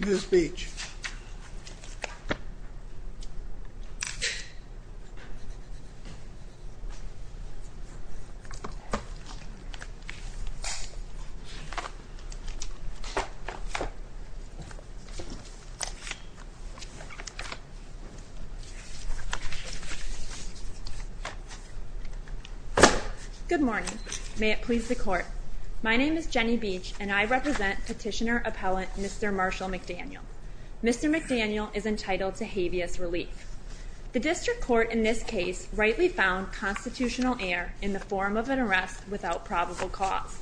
Your speech. Good morning, may it please the court. My name is Jenny Beach and I am here to defend Mr. Marshall McDaniel. Mr. McDaniel is entitled to habeas relief. The district court in this case rightly found constitutional error in the form of an arrest without probable cause.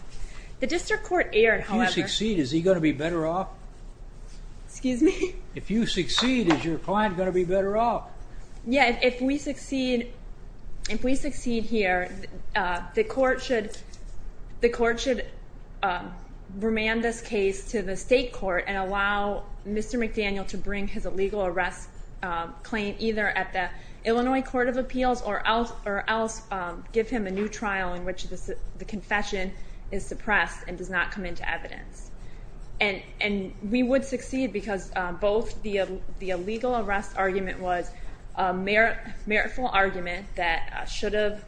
The district court erred, however... If you succeed, is he going to be better off? Excuse me? If you succeed, is your client going to be better off? Yeah, if we succeed, if we succeed here, the court should, the court should remand this case to the state court and allow Mr. McDaniel to bring his illegal arrest claim either at the Illinois Court of Appeals or else give him a new trial in which the confession is suppressed and does not come into evidence. And we would succeed because both the illegal arrest argument was a meritful argument that should have,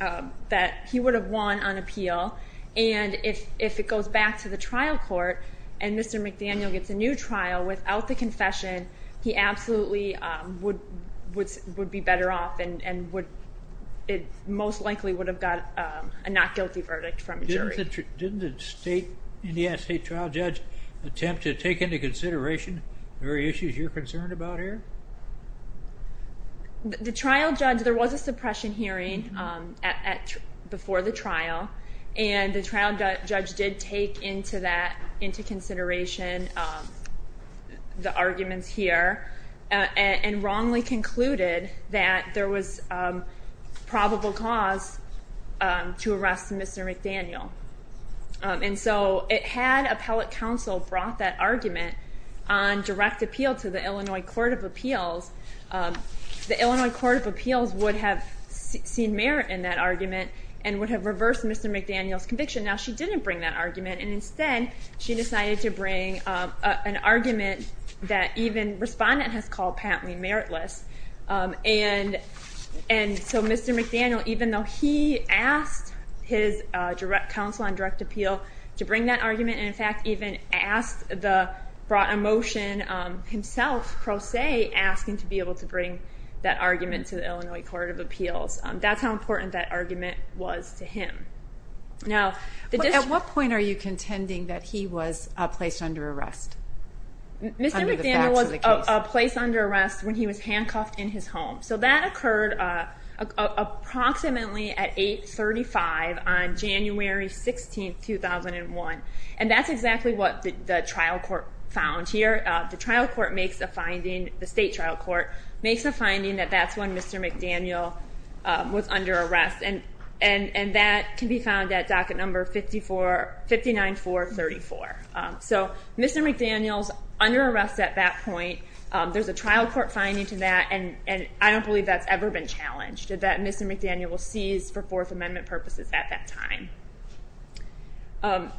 that he would have won on appeal and if it goes back to the trial court and Mr. McDaniel gets a new trial without the confession, he absolutely would be better off and would, it most likely would have got a not guilty verdict from the jury. Didn't the state, Indiana state trial judge attempt to take into consideration the very issues you're concerned about here? The trial judge, there was a suppression hearing before the trial and the trial judge did take into that, into consideration the arguments here and wrongly concluded that there was probable cause to arrest Mr. McDaniel. And so it had appellate counsel brought that argument on direct appeal to the Illinois Court of Appeals. The Illinois Court of Appeals would have seen merit in that argument and would have reversed Mr. McDaniel's conviction. Now she didn't bring that argument and instead she decided to bring an argument that even respondent has called patently meritless. And so Mr. McDaniel, even though he asked his direct counsel on direct appeal to bring that argument and in fact even asked the, brought a motion himself, pro se, asking to be able to bring that argument to the Illinois Court of Appeals. That's how important that argument was to him. Now at what point are you contending that he was placed under arrest? Mr. McDaniel was placed under arrest when he was handcuffed in his home. So that occurred approximately at 8.35 on January 16, 2001. And that's exactly what the trial court found here. The trial court makes a finding, the state trial court makes a finding that that's when Mr. McDaniel was under arrest. And that can be found at docket number 59434. So Mr. McDaniel's under arrest at that point. There's a trial court finding to that and I don't believe that's ever been challenged, that Mr. McDaniel was seized for Fourth Amendment purposes at that time.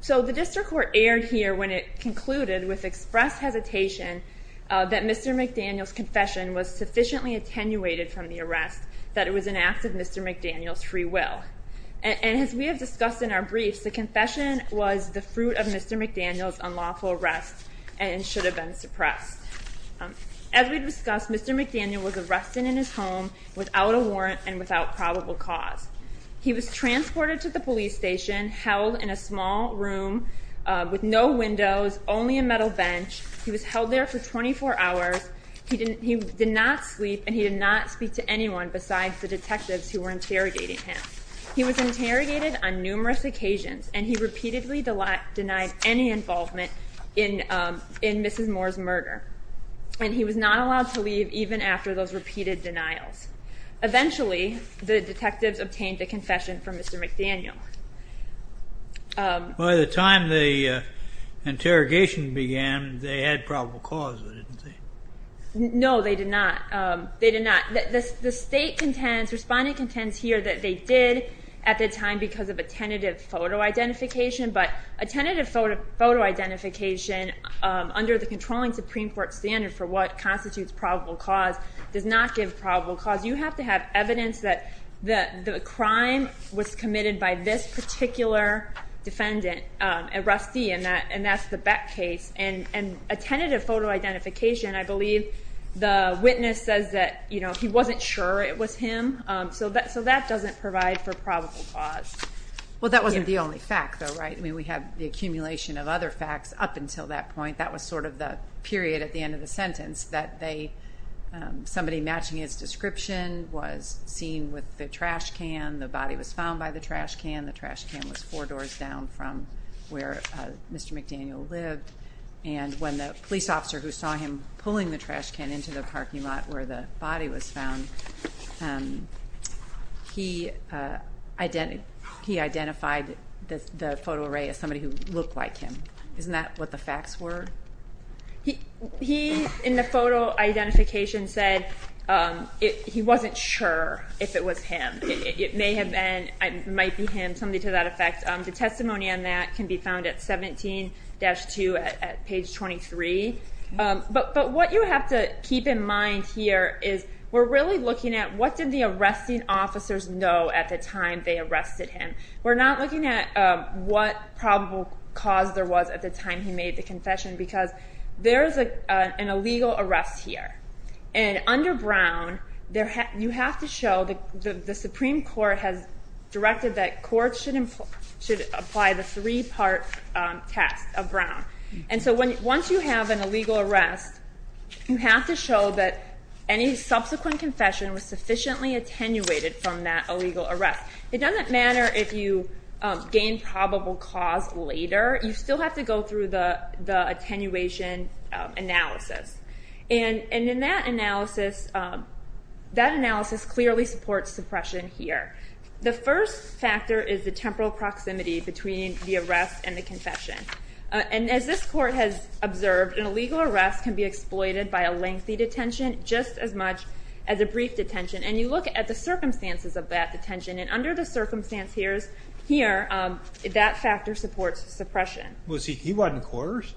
So the district court erred here when it concluded with express hesitation that Mr. McDaniel's confession was sufficiently attenuated from the arrest that it was an act of Mr. McDaniel's free will. And as we have discussed in our briefs, the confession was the fruit of Mr. McDaniel's unlawful arrest and should have been suppressed. As we've discussed, Mr. McDaniel was arrested in his home without a warrant and without probable cause. He was transported to the police station, held in a small room with no windows, only a metal bench. He was held there for 24 hours. He did not sleep and he did not speak to anyone besides the detectives who were interrogating him. He was interrogated on numerous occasions and he repeatedly denied any involvement in Mrs. Moore's murder. And he was not allowed to leave even after those repeated denials. Eventually, the detectives obtained a confession from Mr. McDaniel. By the time the interrogation began, they had probable cause, didn't they? No, they did not. The state contends, the respondent contends here that they did at the time because of a tentative photo identification. But a tentative photo identification under the controlling Supreme Court standard for what constitutes probable cause does not give probable cause. You have to have evidence that the crime was committed by this particular defendant, a Rusty, and that's the Beck case. And a tentative photo identification, I believe the witness says that he wasn't sure it was him. So that doesn't provide for probable cause. Well, that wasn't the only fact though, right? I mean, we have the accumulation of other facts up until that point. That was sort of the period at the end of the sentence that somebody matching his description was seen with the trash can. The body was found by the trash can. The trash can was four doors down from where Mr. McDaniel lived. And when the police officer who saw him pulling the trash can into the parking lot where the body was found, he identified the photo array as somebody who looked like him. Isn't that what the facts were? He, in the photo identification, said he wasn't sure if it was him. It may have been, it might be him, something to that effect. The testimony on that can be found at 17-2 at page 23. But what you have to keep in mind here is we're really looking at what did the arresting officers know at the time they arrested him. We're not looking at what probable cause there was at the time he made the confession because there's an illegal arrest here. And under Brown, you have to show, the Supreme Court has directed that courts should apply the three-part test of Brown. And so once you have an illegal arrest, you have to show that any subsequent confession was sufficiently attenuated from that illegal arrest. It doesn't matter if you gain probable cause later. You still have to go through the attenuation analysis. And in that analysis, that analysis clearly supports suppression here. The first factor is the temporal proximity between the arrest and the confession. And as this court has observed, an illegal arrest can be exploited by a lengthy detention just as much as a brief detention. And you look at the circumstances of that detention. And under the circumstance here, that factor supports suppression. Was he, he wasn't coerced?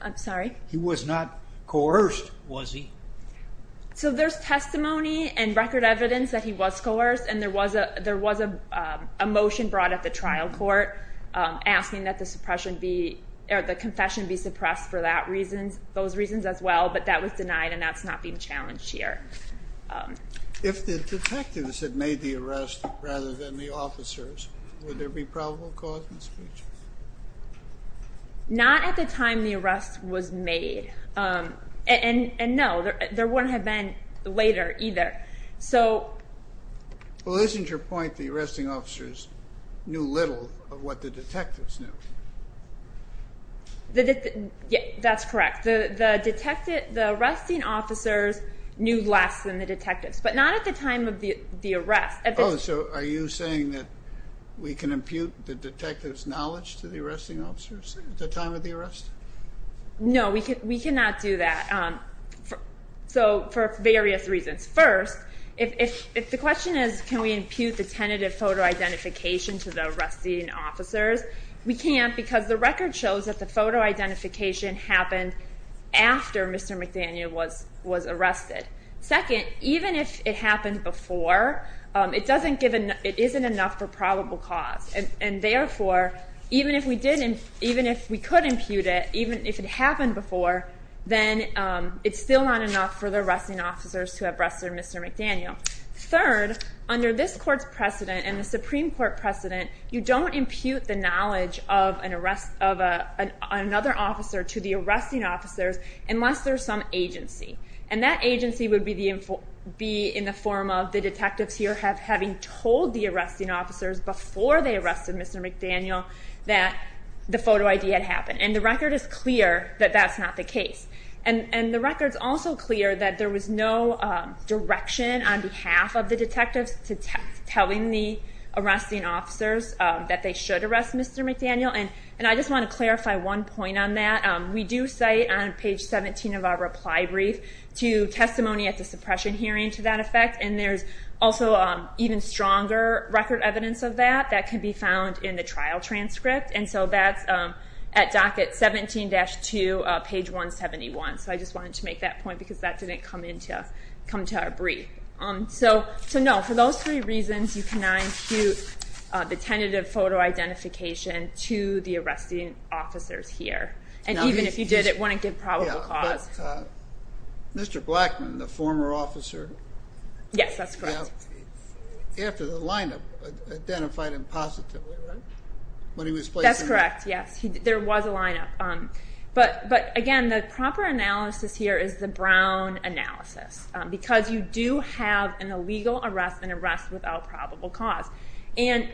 I'm sorry? He was not coerced, was he? So there's testimony and record evidence that he was coerced. And there was a motion brought at the trial court asking that the suppression be, or the confession be suppressed for that reason, those reasons as well. But that was denied and that's not being challenged here. If the detectives had made the arrest rather than the officers, would there be probable cause in the speech? Not at the time the arrest was made. And no, there wouldn't have been later either. So... Well isn't your point the arresting officers knew little of what the detectives knew? Yeah, that's correct. The arrested officers knew less than the detectives, but not at the time of the arrest. Oh, so are you saying that we can impute the detectives' knowledge to the arresting officers at the time of the arrest? No, we cannot do that. So for various reasons. First, if the question is can we impute the tentative photo identification to the arresting officers, we can't because the record shows that the photo identification happened after Mr. McDaniel was arrested. Second, even if it happened before, it isn't enough for probable cause. And therefore, even if we could impute it, even if it happened before, then it's still not enough for the arresting officers to have arrested Mr. McDaniel. Third, under this court's precedent and the Supreme Court precedent, you don't impute the knowledge of another officer to the arresting officers unless there's some agency. And that agency would be in the form of the detectives here having told the arresting officers before they arrested Mr. McDaniel that the photo ID had happened. And the record is clear that that's not the case. And the record's also clear that there was no direction on behalf of the detectives to telling the arresting officers that they should arrest Mr. McDaniel. And I just want to clarify one point on that. We do cite on page 17 of our reply brief to testimony at the suppression hearing to that effect. And there's also even stronger record evidence of that that can be found in the trial transcript. And so that's at docket 17-2, page 171. So I just wanted to make that point because that didn't come to our brief. So no, for those three reasons, you cannot impute the tentative photo identification to the arresting officers here. And even if you did, it wouldn't give probable cause. But Mr. Blackman, the former officer. Yes, that's correct. After the lineup identified him positively, right? That's correct, yes. There was a lineup. But again, the proper analysis here is the probable cause. And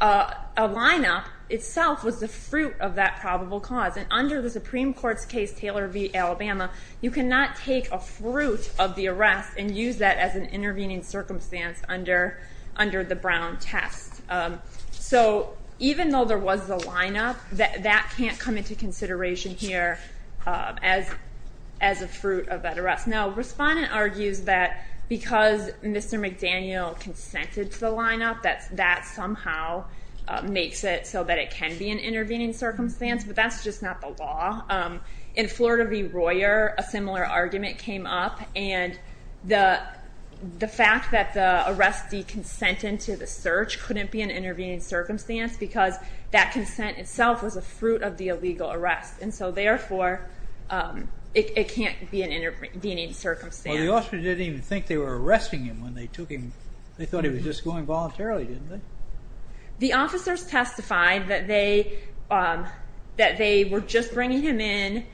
a lineup itself was the fruit of that probable cause. And under the Supreme Court's case, Taylor v. Alabama, you cannot take a fruit of the arrest and use that as an intervening circumstance under the Brown test. So even though there was a lineup, that can't come into consideration here as a fruit of that arrest. Now, Respondent argues that because Mr. McDaniel consented to the lineup, that somehow makes it so that it can be an intervening circumstance. But that's just not the law. In Florida v. Royer, a similar argument came up. And the fact that the arrestee consented to the search couldn't be an intervening circumstance because that consent itself was a fruit of the illegal arrest. And so therefore, it can't be an intervening circumstance. Well, the officers didn't even think they were arresting him when they took him. They thought he was just going voluntarily, didn't they? The officers testified that they were just bringing him in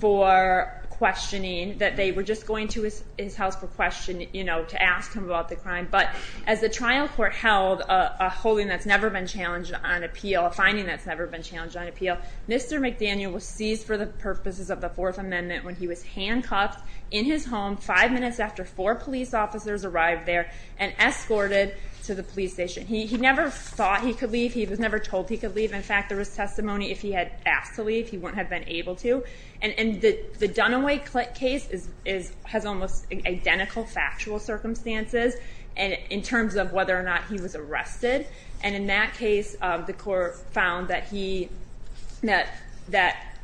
for questioning, that they were just going to his house for questioning, you know, to ask him about the crime. But As the trial court held a holding that's never been challenged on appeal, a finding that's never been challenged on appeal, Mr. McDaniel was seized for the purposes of the Fourth Amendment when he was handcuffed in his home five minutes after four police officers arrived there and escorted to the police station. He never thought he could leave. He was never told he could leave. In fact, there was testimony if he had asked to leave, he wouldn't have been able to. And the Dunaway case has almost identical factual circumstances in terms of whether or not he was arrested. And in that case, the court found that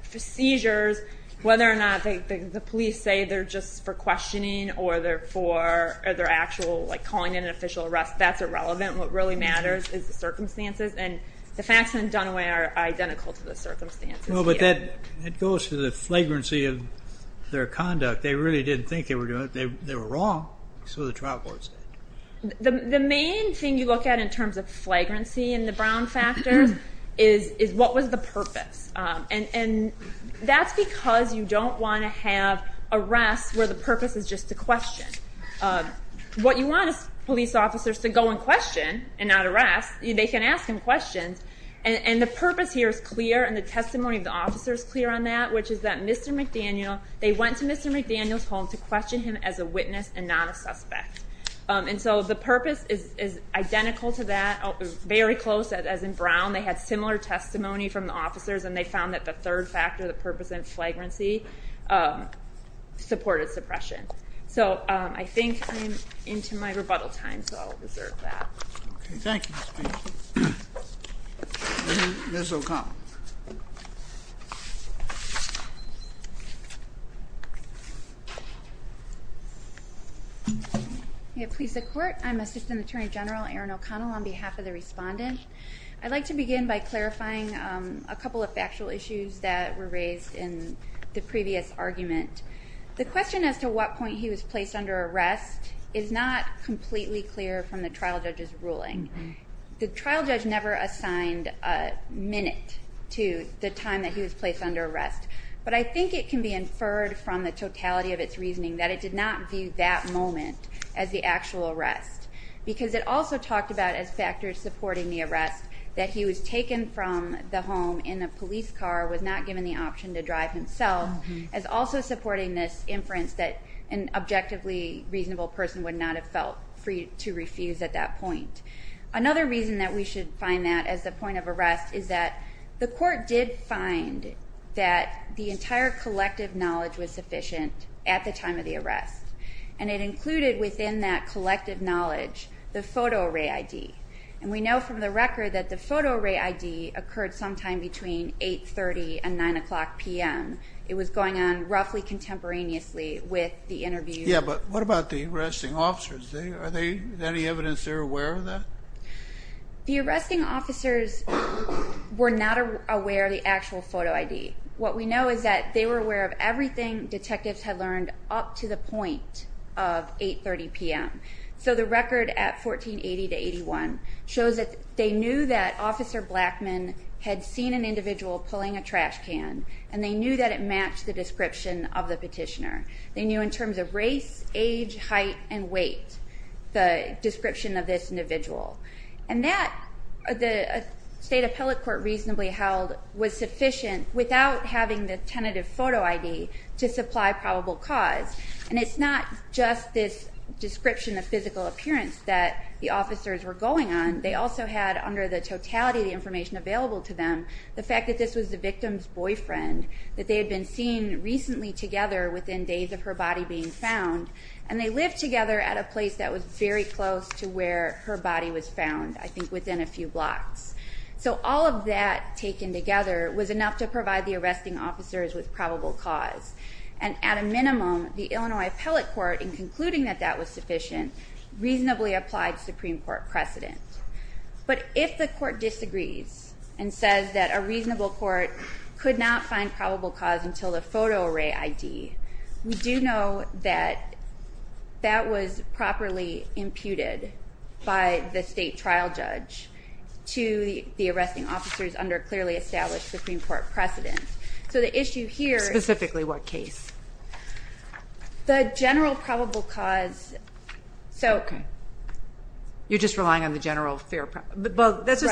seizures, whether or not the police say they're just for questioning or they're actually calling it an official arrest, that's irrelevant. What really matters is the circumstances. And the facts in Dunaway are identical to the circumstances here. Well, but that goes to the flagrancy of their conduct. They really didn't think they were doing it. They were wrong. So the trial court said. The main thing you look at in terms of flagrancy in the Brown factors is what was the purpose. And that's because you don't want to have arrests where the purpose is just to question. What you want is police officers to go and question and not arrest. They can ask him which is that Mr. McDaniel, they went to Mr. McDaniel's home to question him as a witness and not a suspect. And so the purpose is identical to that. Very close, as in Brown, they had similar testimony from the officers and they found that the third factor, the purpose and flagrancy supported suppression. So I think I'm into my rebuttal time, so I'll reserve that. OK, thank you. Ms. O'Connell. Please support. I'm Assistant Attorney General Erin O'Connell on behalf of the respondent. I'd like to begin by clarifying a couple of factual issues that were raised in the previous argument. The question as to what point he was placed under arrest is not completely clear from the trial judge's ruling. The trial judge never assigned a minute to the time that he was placed under arrest, but I think it can be inferred from the totality of its reasoning that it did not view that moment as the actual arrest, because it also talked about as factors supporting the arrest that he was taken from the home in a police car, was not given the option to drive himself, as also supporting this inference that an Another reason that we should find that as the point of arrest is that the court did find that the entire collective knowledge was sufficient at the time of the arrest, and it included within that collective knowledge the photo array ID. And we know from the record that the photo array ID occurred sometime between 8.30 and 9 o'clock p.m. It was going on roughly contemporaneously with the interview. Yeah, but what about the arresting officers? Is there any evidence they're aware of that? The arresting officers were not aware of the actual photo ID. What we know is that they were aware of everything detectives had learned up to the point of 8.30 p.m. So the record at 1480 to 81 shows that they knew that Officer Blackman had seen an individual pulling a trash can, and they knew that it matched the description of the height and weight, the description of this individual. And that, the state appellate court reasonably held, was sufficient without having the tentative photo ID to supply probable cause. And it's not just this description of physical appearance that the officers were going on. They also had, under the totality of the information available to them, the fact that this was the victim's boyfriend, that they had been seen recently together within days of her body being found, and they lived together at a place that was very close to where her body was found, I think within a few blocks. So all of that taken together was enough to provide the arresting officers with probable cause. And at a minimum, the Illinois appellate court, in concluding that that was sufficient, reasonably applied Supreme Court precedent. But if the court disagrees and says that a reasonable court could not find probable cause until the photo array ID, we do know that that was properly imputed by the state trial judge to the arresting officers under clearly established Supreme Court precedent. So the issue here is... Specifically what case? The general probable cause... Okay. You're just relying on the general fair... Right. There's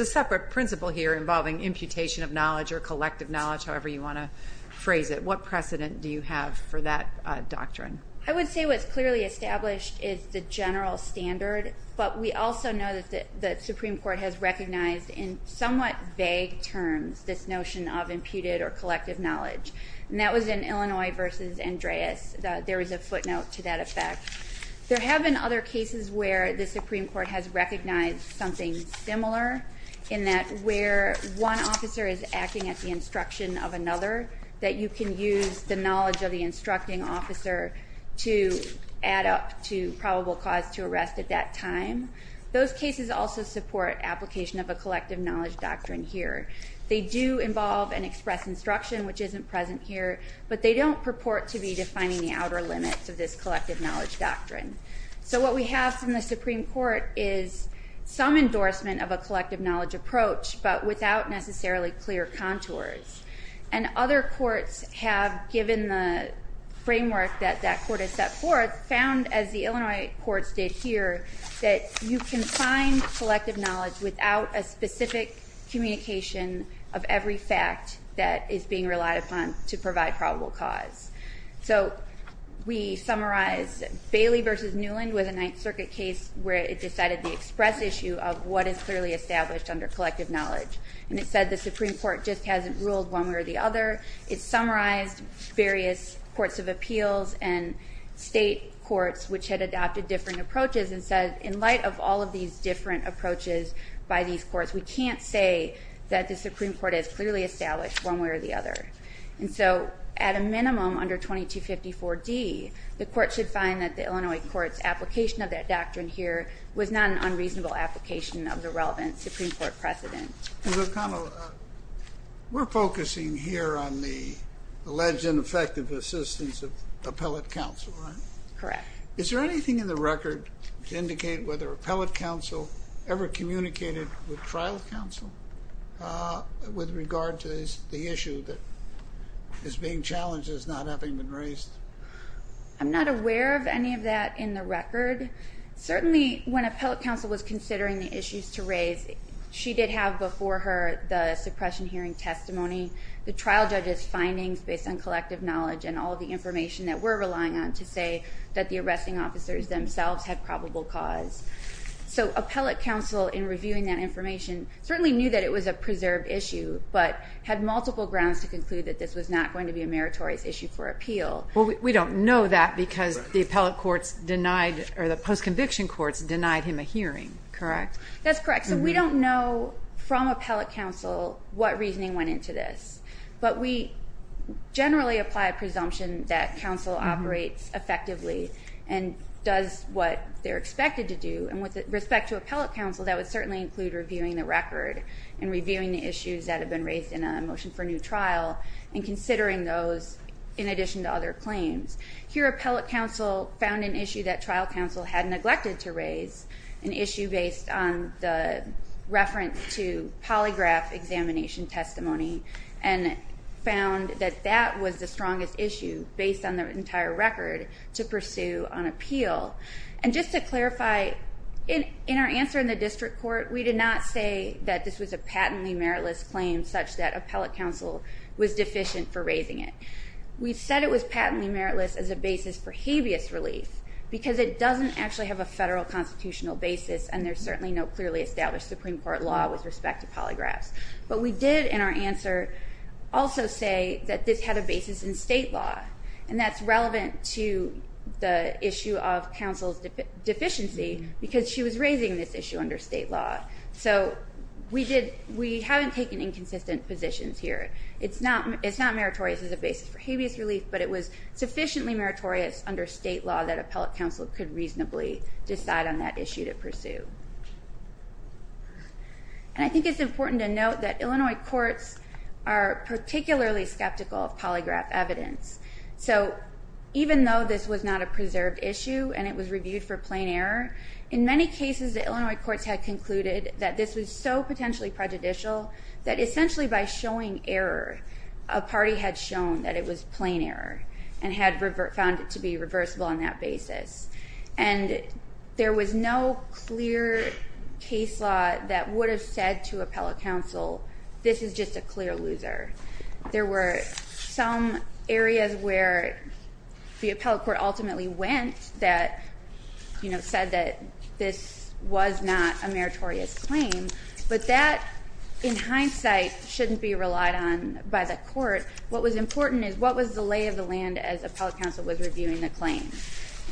a separate principle here involving imputation of knowledge or collective knowledge, however you want to phrase it. What precedent do you have for that doctrine? I would say what's clearly established is the general standard, but we also know that the Supreme Court has recognized in somewhat vague terms this notion of imputed or collective knowledge. And that was in Illinois v. Andreas. There was a footnote to that effect. There have been other cases where the Supreme Court has recognized something similar in that where one officer is acting at the instruction of another, that you can use the knowledge of the instructing officer to add up to probable cause to arrest at that time. Those cases also support application of a collective knowledge doctrine here. They do involve and express instruction, which isn't present here, but they don't purport to be defining the outer limits of this collective knowledge approach, but without necessarily clear contours. And other courts have, given the framework that that court has set forth, found, as the Illinois courts did here, that you can find collective knowledge without a specific communication of every fact that is being relied upon to provide probable cause. So we summarize Bailey v. Newland with a Ninth Circuit case where it decided the express issue of what is clearly established under collective knowledge. And it said the Supreme Court just hasn't ruled one way or the other. It summarized various courts of appeals and state courts which had adopted different approaches and said in light of all of these different approaches by these courts, we can't say that the Supreme Court has clearly established one way or the other. And so at a minimum under 2254d, the court should find that the Illinois court's application of that is a reasonable application of the relevant Supreme Court precedent. We're focusing here on the alleged ineffective assistance of appellate counsel, right? Correct. Is there anything in the record to indicate whether appellate counsel ever communicated with trial counsel with regard to the issue that is being challenged as not having been raised? I'm not aware of any of that in the record. Certainly when appellate counsel was considering the issues to raise, she did have before her the suppression hearing testimony, the trial judge's findings based on collective knowledge and all of the information that we're relying on to say that the arresting officers themselves had probable cause. So appellate counsel in reviewing that information certainly knew that it was a preserved issue, but had multiple grounds to conclude that this was not going to be a meritorious issue for trial. We don't know that because the appellate courts denied or the post-conviction courts denied him a hearing, correct? That's correct. So we don't know from appellate counsel what reasoning went into this, but we generally apply a presumption that counsel operates effectively and does what they're expected to do. And with respect to appellate counsel, that would certainly include reviewing the record and reviewing the issues that have been raised in a motion for new trial and considering those in addition to other claims. Here appellate counsel found an issue that trial counsel had neglected to raise, an issue based on the reference to polygraph examination testimony, and found that that was the strongest issue based on the entire record to pursue on appeal. And just to clarify, in our answer in the district court, we did not say that this was a patently meritless claim such that appellate counsel was deficient for raising it. We said it was patently meritless as a basis for habeas relief because it doesn't actually have a federal constitutional basis, and there's certainly no clearly established Supreme Court law with respect to polygraphs. But we did in our answer also say that this had a basis in state law, and that's relevant to the issue of counsel's deficiency because she was raising this issue under state law. So we haven't taken inconsistent positions here. It's not meritorious as a basis for habeas relief, but it was sufficiently meritorious under state law that appellate counsel could reasonably decide on that issue to pursue. And I think it's important to note that Illinois courts are particularly skeptical of polygraph evidence. So even though this was not a preserved issue and it was reviewed for plain error, in many cases the Illinois courts had concluded that this was so potentially prejudicial that essentially by showing error a party had shown that it was plain error and had found it to be reversible on that basis. And there was no clear case law that would have said to appellate counsel, this is just a clear loser. There were some areas where the appellate court ultimately went that said that this was not a meritorious claim, but that in hindsight shouldn't be relied on by the court. What was important is what was the lay of the land as appellate counsel was reviewing the claim?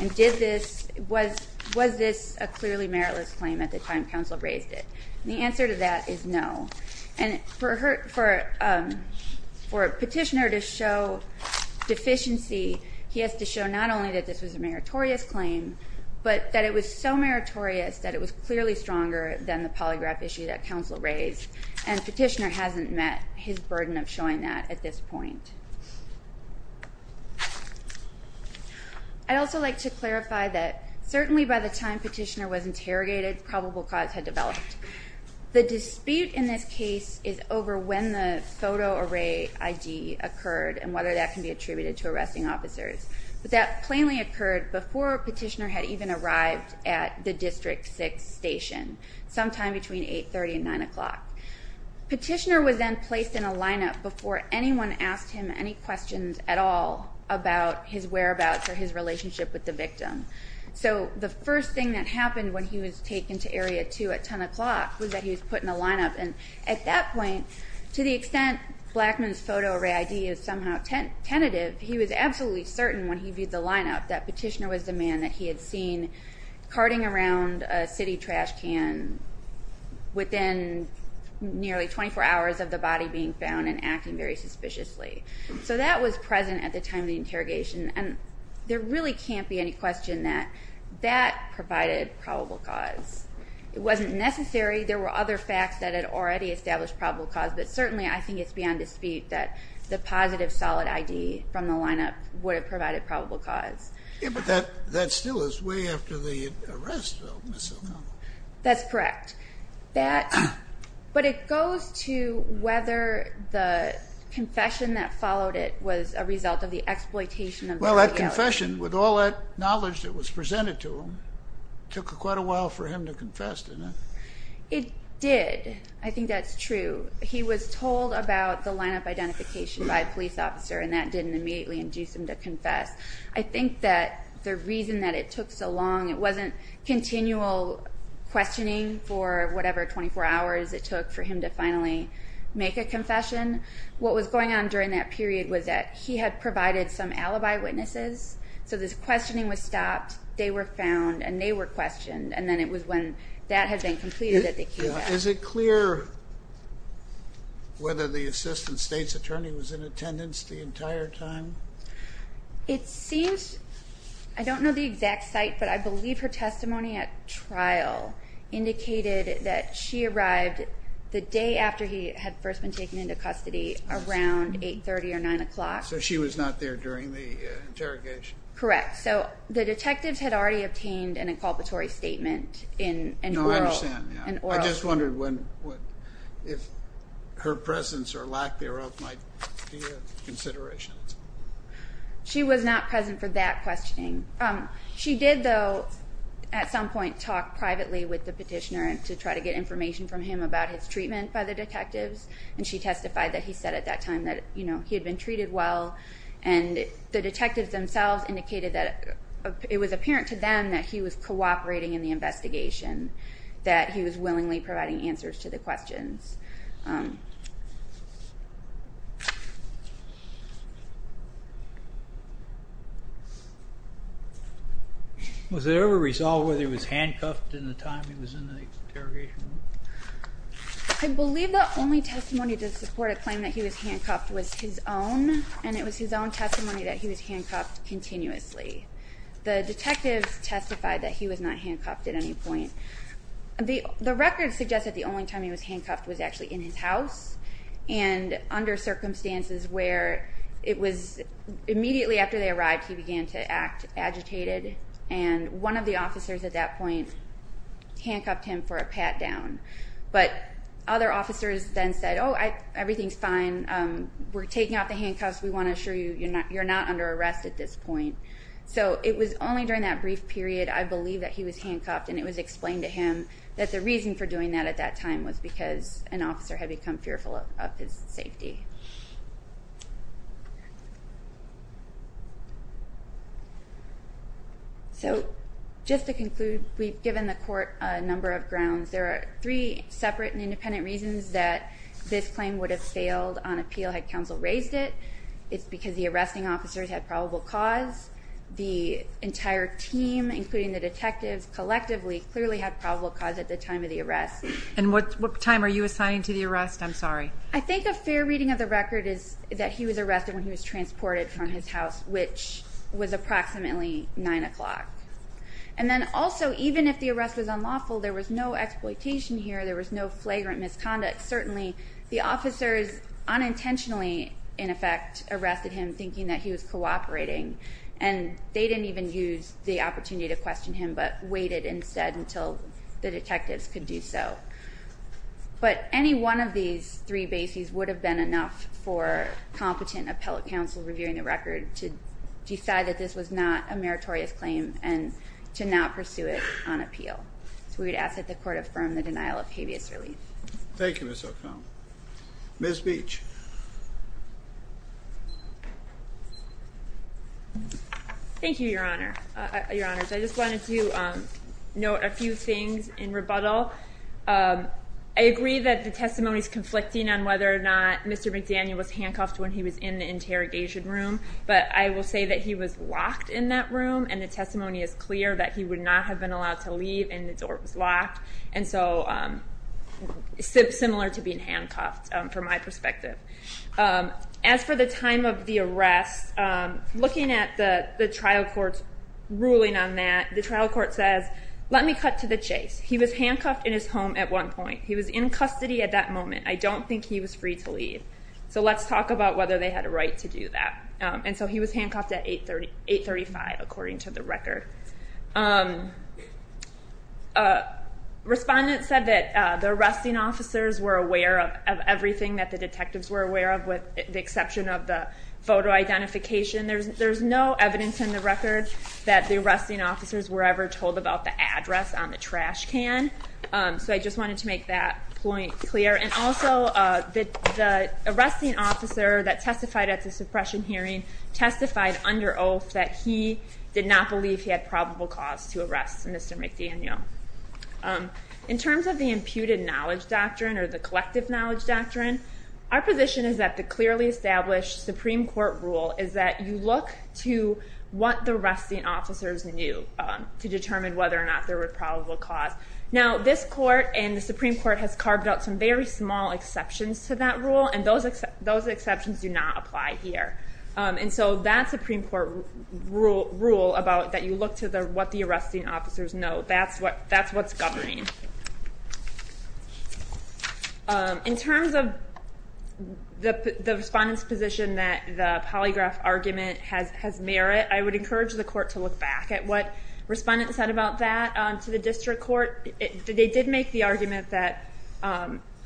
And was this a clearly meritless claim at the time counsel raised it? And the answer to that is no. And for a petitioner to show deficiency, he has to show not only that this was a meritorious claim, but that it was so meritorious that it was clearly stronger than the polygraph issue that counsel raised. And petitioner hasn't met his burden of showing that at this point. I'd also like to clarify that certainly by the time petitioner was interrogated probable cause had developed. The dispute in this case is over when the photo array ID occurred and whether that can be attributed to arresting officers. But that plainly occurred before petitioner had even arrived at the District 6 station sometime between 8.30 and 9 o'clock. Petitioner was then placed in a lineup before anyone asked him any questions at all about his whereabouts or his relationship with the victim. So the first thing that happened when he was taken to Area 2 at 10 o'clock was that he was put in a lineup. And at that point, to the extent Blackman's photo array ID is somehow tentative, he was absolutely certain when he viewed the lineup that petitioner was the man that he had seen carting around a city trash can within nearly 24 hours of the body being found and acting very suspiciously. So that was present at the time of the interrogation. And there really can't be any question that that provided probable cause. It wasn't necessary. There were other facts that had already established probable cause, but certainly I think it's beyond dispute that the positive solid ID from the lineup would have provided probable cause. Yeah, but that still is way after the arrest of Ms. O'Connell. That's correct. But it goes to whether the confession that followed it was a result of the exploitation of the FBI. Well, that confession, with all that knowledge that was presented to him, took quite a while for him to confess to that. It did. I think that's true. He was told about the lineup identification by a police officer, and that didn't immediately induce him to confess. I think that the reason that it took so long, it wasn't continual questioning for whatever 24 hours it took for him to finally make a confession. What was going on during that period was that he had provided some alibi witnesses, so this questioning was stopped, they were found, and they were questioned, and then it was when that had been completed that they came back. Is it clear whether the assistant state's attorney was in attendance the entire time? It seems, I don't know the exact site, but I believe her testimony at trial indicated that she arrived the day after he had first been taken into custody, around 8.30 or 9 o'clock. So she was not there during the interrogation? Correct. So the detectives had already obtained an inculpatory statement in oral? I just wondered if her presence or lack thereof might be a consideration. She was not present for that questioning. She did, though, at some point talk privately with the petitioner to try to get information from him about his treatment by the detectives, and she testified that he said at that time that he had been treated well, and the detectives themselves indicated that it was apparent to them that he was cooperating in the investigation, that he was willingly providing answers to the questions. Was it ever resolved whether he was handcuffed in the time he was in the interrogation room? I believe the only testimony to support a claim that he was handcuffed was his own, and it was his own testimony that he was handcuffed continuously. The detectives testified that he was not handcuffed at any point. The record suggests that the only time he was handcuffed was actually in his house, and under circumstances where it was immediately after they arrived he began to act agitated, and one of the officers at that point handcuffed him for a pat down. But other officers then said, oh, everything's fine, we're taking off the handcuffs, we want to assure you you're not under arrest at this point. So it was only during that brief period, I believe, that he was handcuffed, and it was explained to him that the reason for doing that at that time was because an officer had become fearful of his safety. So just to conclude, we've given the court a number of grounds. There are three separate and independent reasons that this claim would have failed on appeal had counsel raised it. It's because the arresting officers had probable cause. The entire team, including the detectives, collectively clearly had probable cause at the time of the arrest. And what time are you assigning to the arrest? I'm sorry. I think a fair reading of the record is that he was arrested when he was transported from his house, which was approximately 9 o'clock. And then also, even if the arrest was unlawful, there was no exploitation here, there was no flagrant misconduct. Certainly the officers unintentionally, in effect, arrested him thinking that he was cooperating, and they didn't even use the opportunity to question him but waited instead until the detectives could do so. But any one of these three bases would have been enough for competent appellate counsel reviewing the record to decide that this was not a meritorious claim and to not pursue it on appeal. So we would ask that the court affirm the denial of habeas relief. Thank you, Ms. O'Connell. Ms. Beach. Thank you, Your Honor. I just wanted to note a few things in rebuttal. I agree that the testimony is conflicting on whether or not Mr. McDaniel was handcuffed when he was in the interrogation room, but I will say that he was locked in that room and the testimony is clear that he would not have been allowed to leave and the door was locked, and so similar to being handcuffed from my perspective. As for the time of the arrest, looking at the trial court's ruling on that, the trial court says, let me cut to the chase. He was handcuffed in his home at one point. He was in custody at that moment. I don't think he was free to leave. So let's talk about whether they had a right to do that. And so he was handcuffed at 835, according to the record. Respondents said that the arresting officers were aware of everything that the detectives were aware of, with the exception of the photo identification. There's no evidence in the record that the arresting officers were ever told about the address on the trash can. So I just wanted to make that point clear. And also, the arresting officer that testified at the suppression hearing testified under oath that he did not believe he had probable cause to arrest Mr. McDaniel. In terms of the imputed knowledge doctrine or the collective knowledge doctrine, our position is that the clearly established Supreme Court rule is that you look to what the arresting officers knew to determine whether or not there were probable cause. Now, this court and the Supreme Court has carved out some very small exceptions to that rule, and those exceptions do not apply here. And so that Supreme Court rule about that you look to what the arresting officers know, that's what's governing. In terms of the respondent's position that the polygraph argument has merit, I would encourage the court to look back at what respondents said about that to the district court. They did make the argument that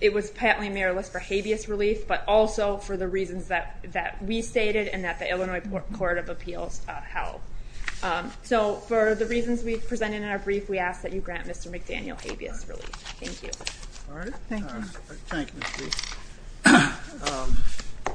it was patently meritless for habeas relief, but also for the reasons that we stated and that the Illinois Court of Appeals held. So for the reasons we've presented in our brief, we ask that you grant Mr. McDaniel habeas relief. Thank you. All right. Thank you. Thank you.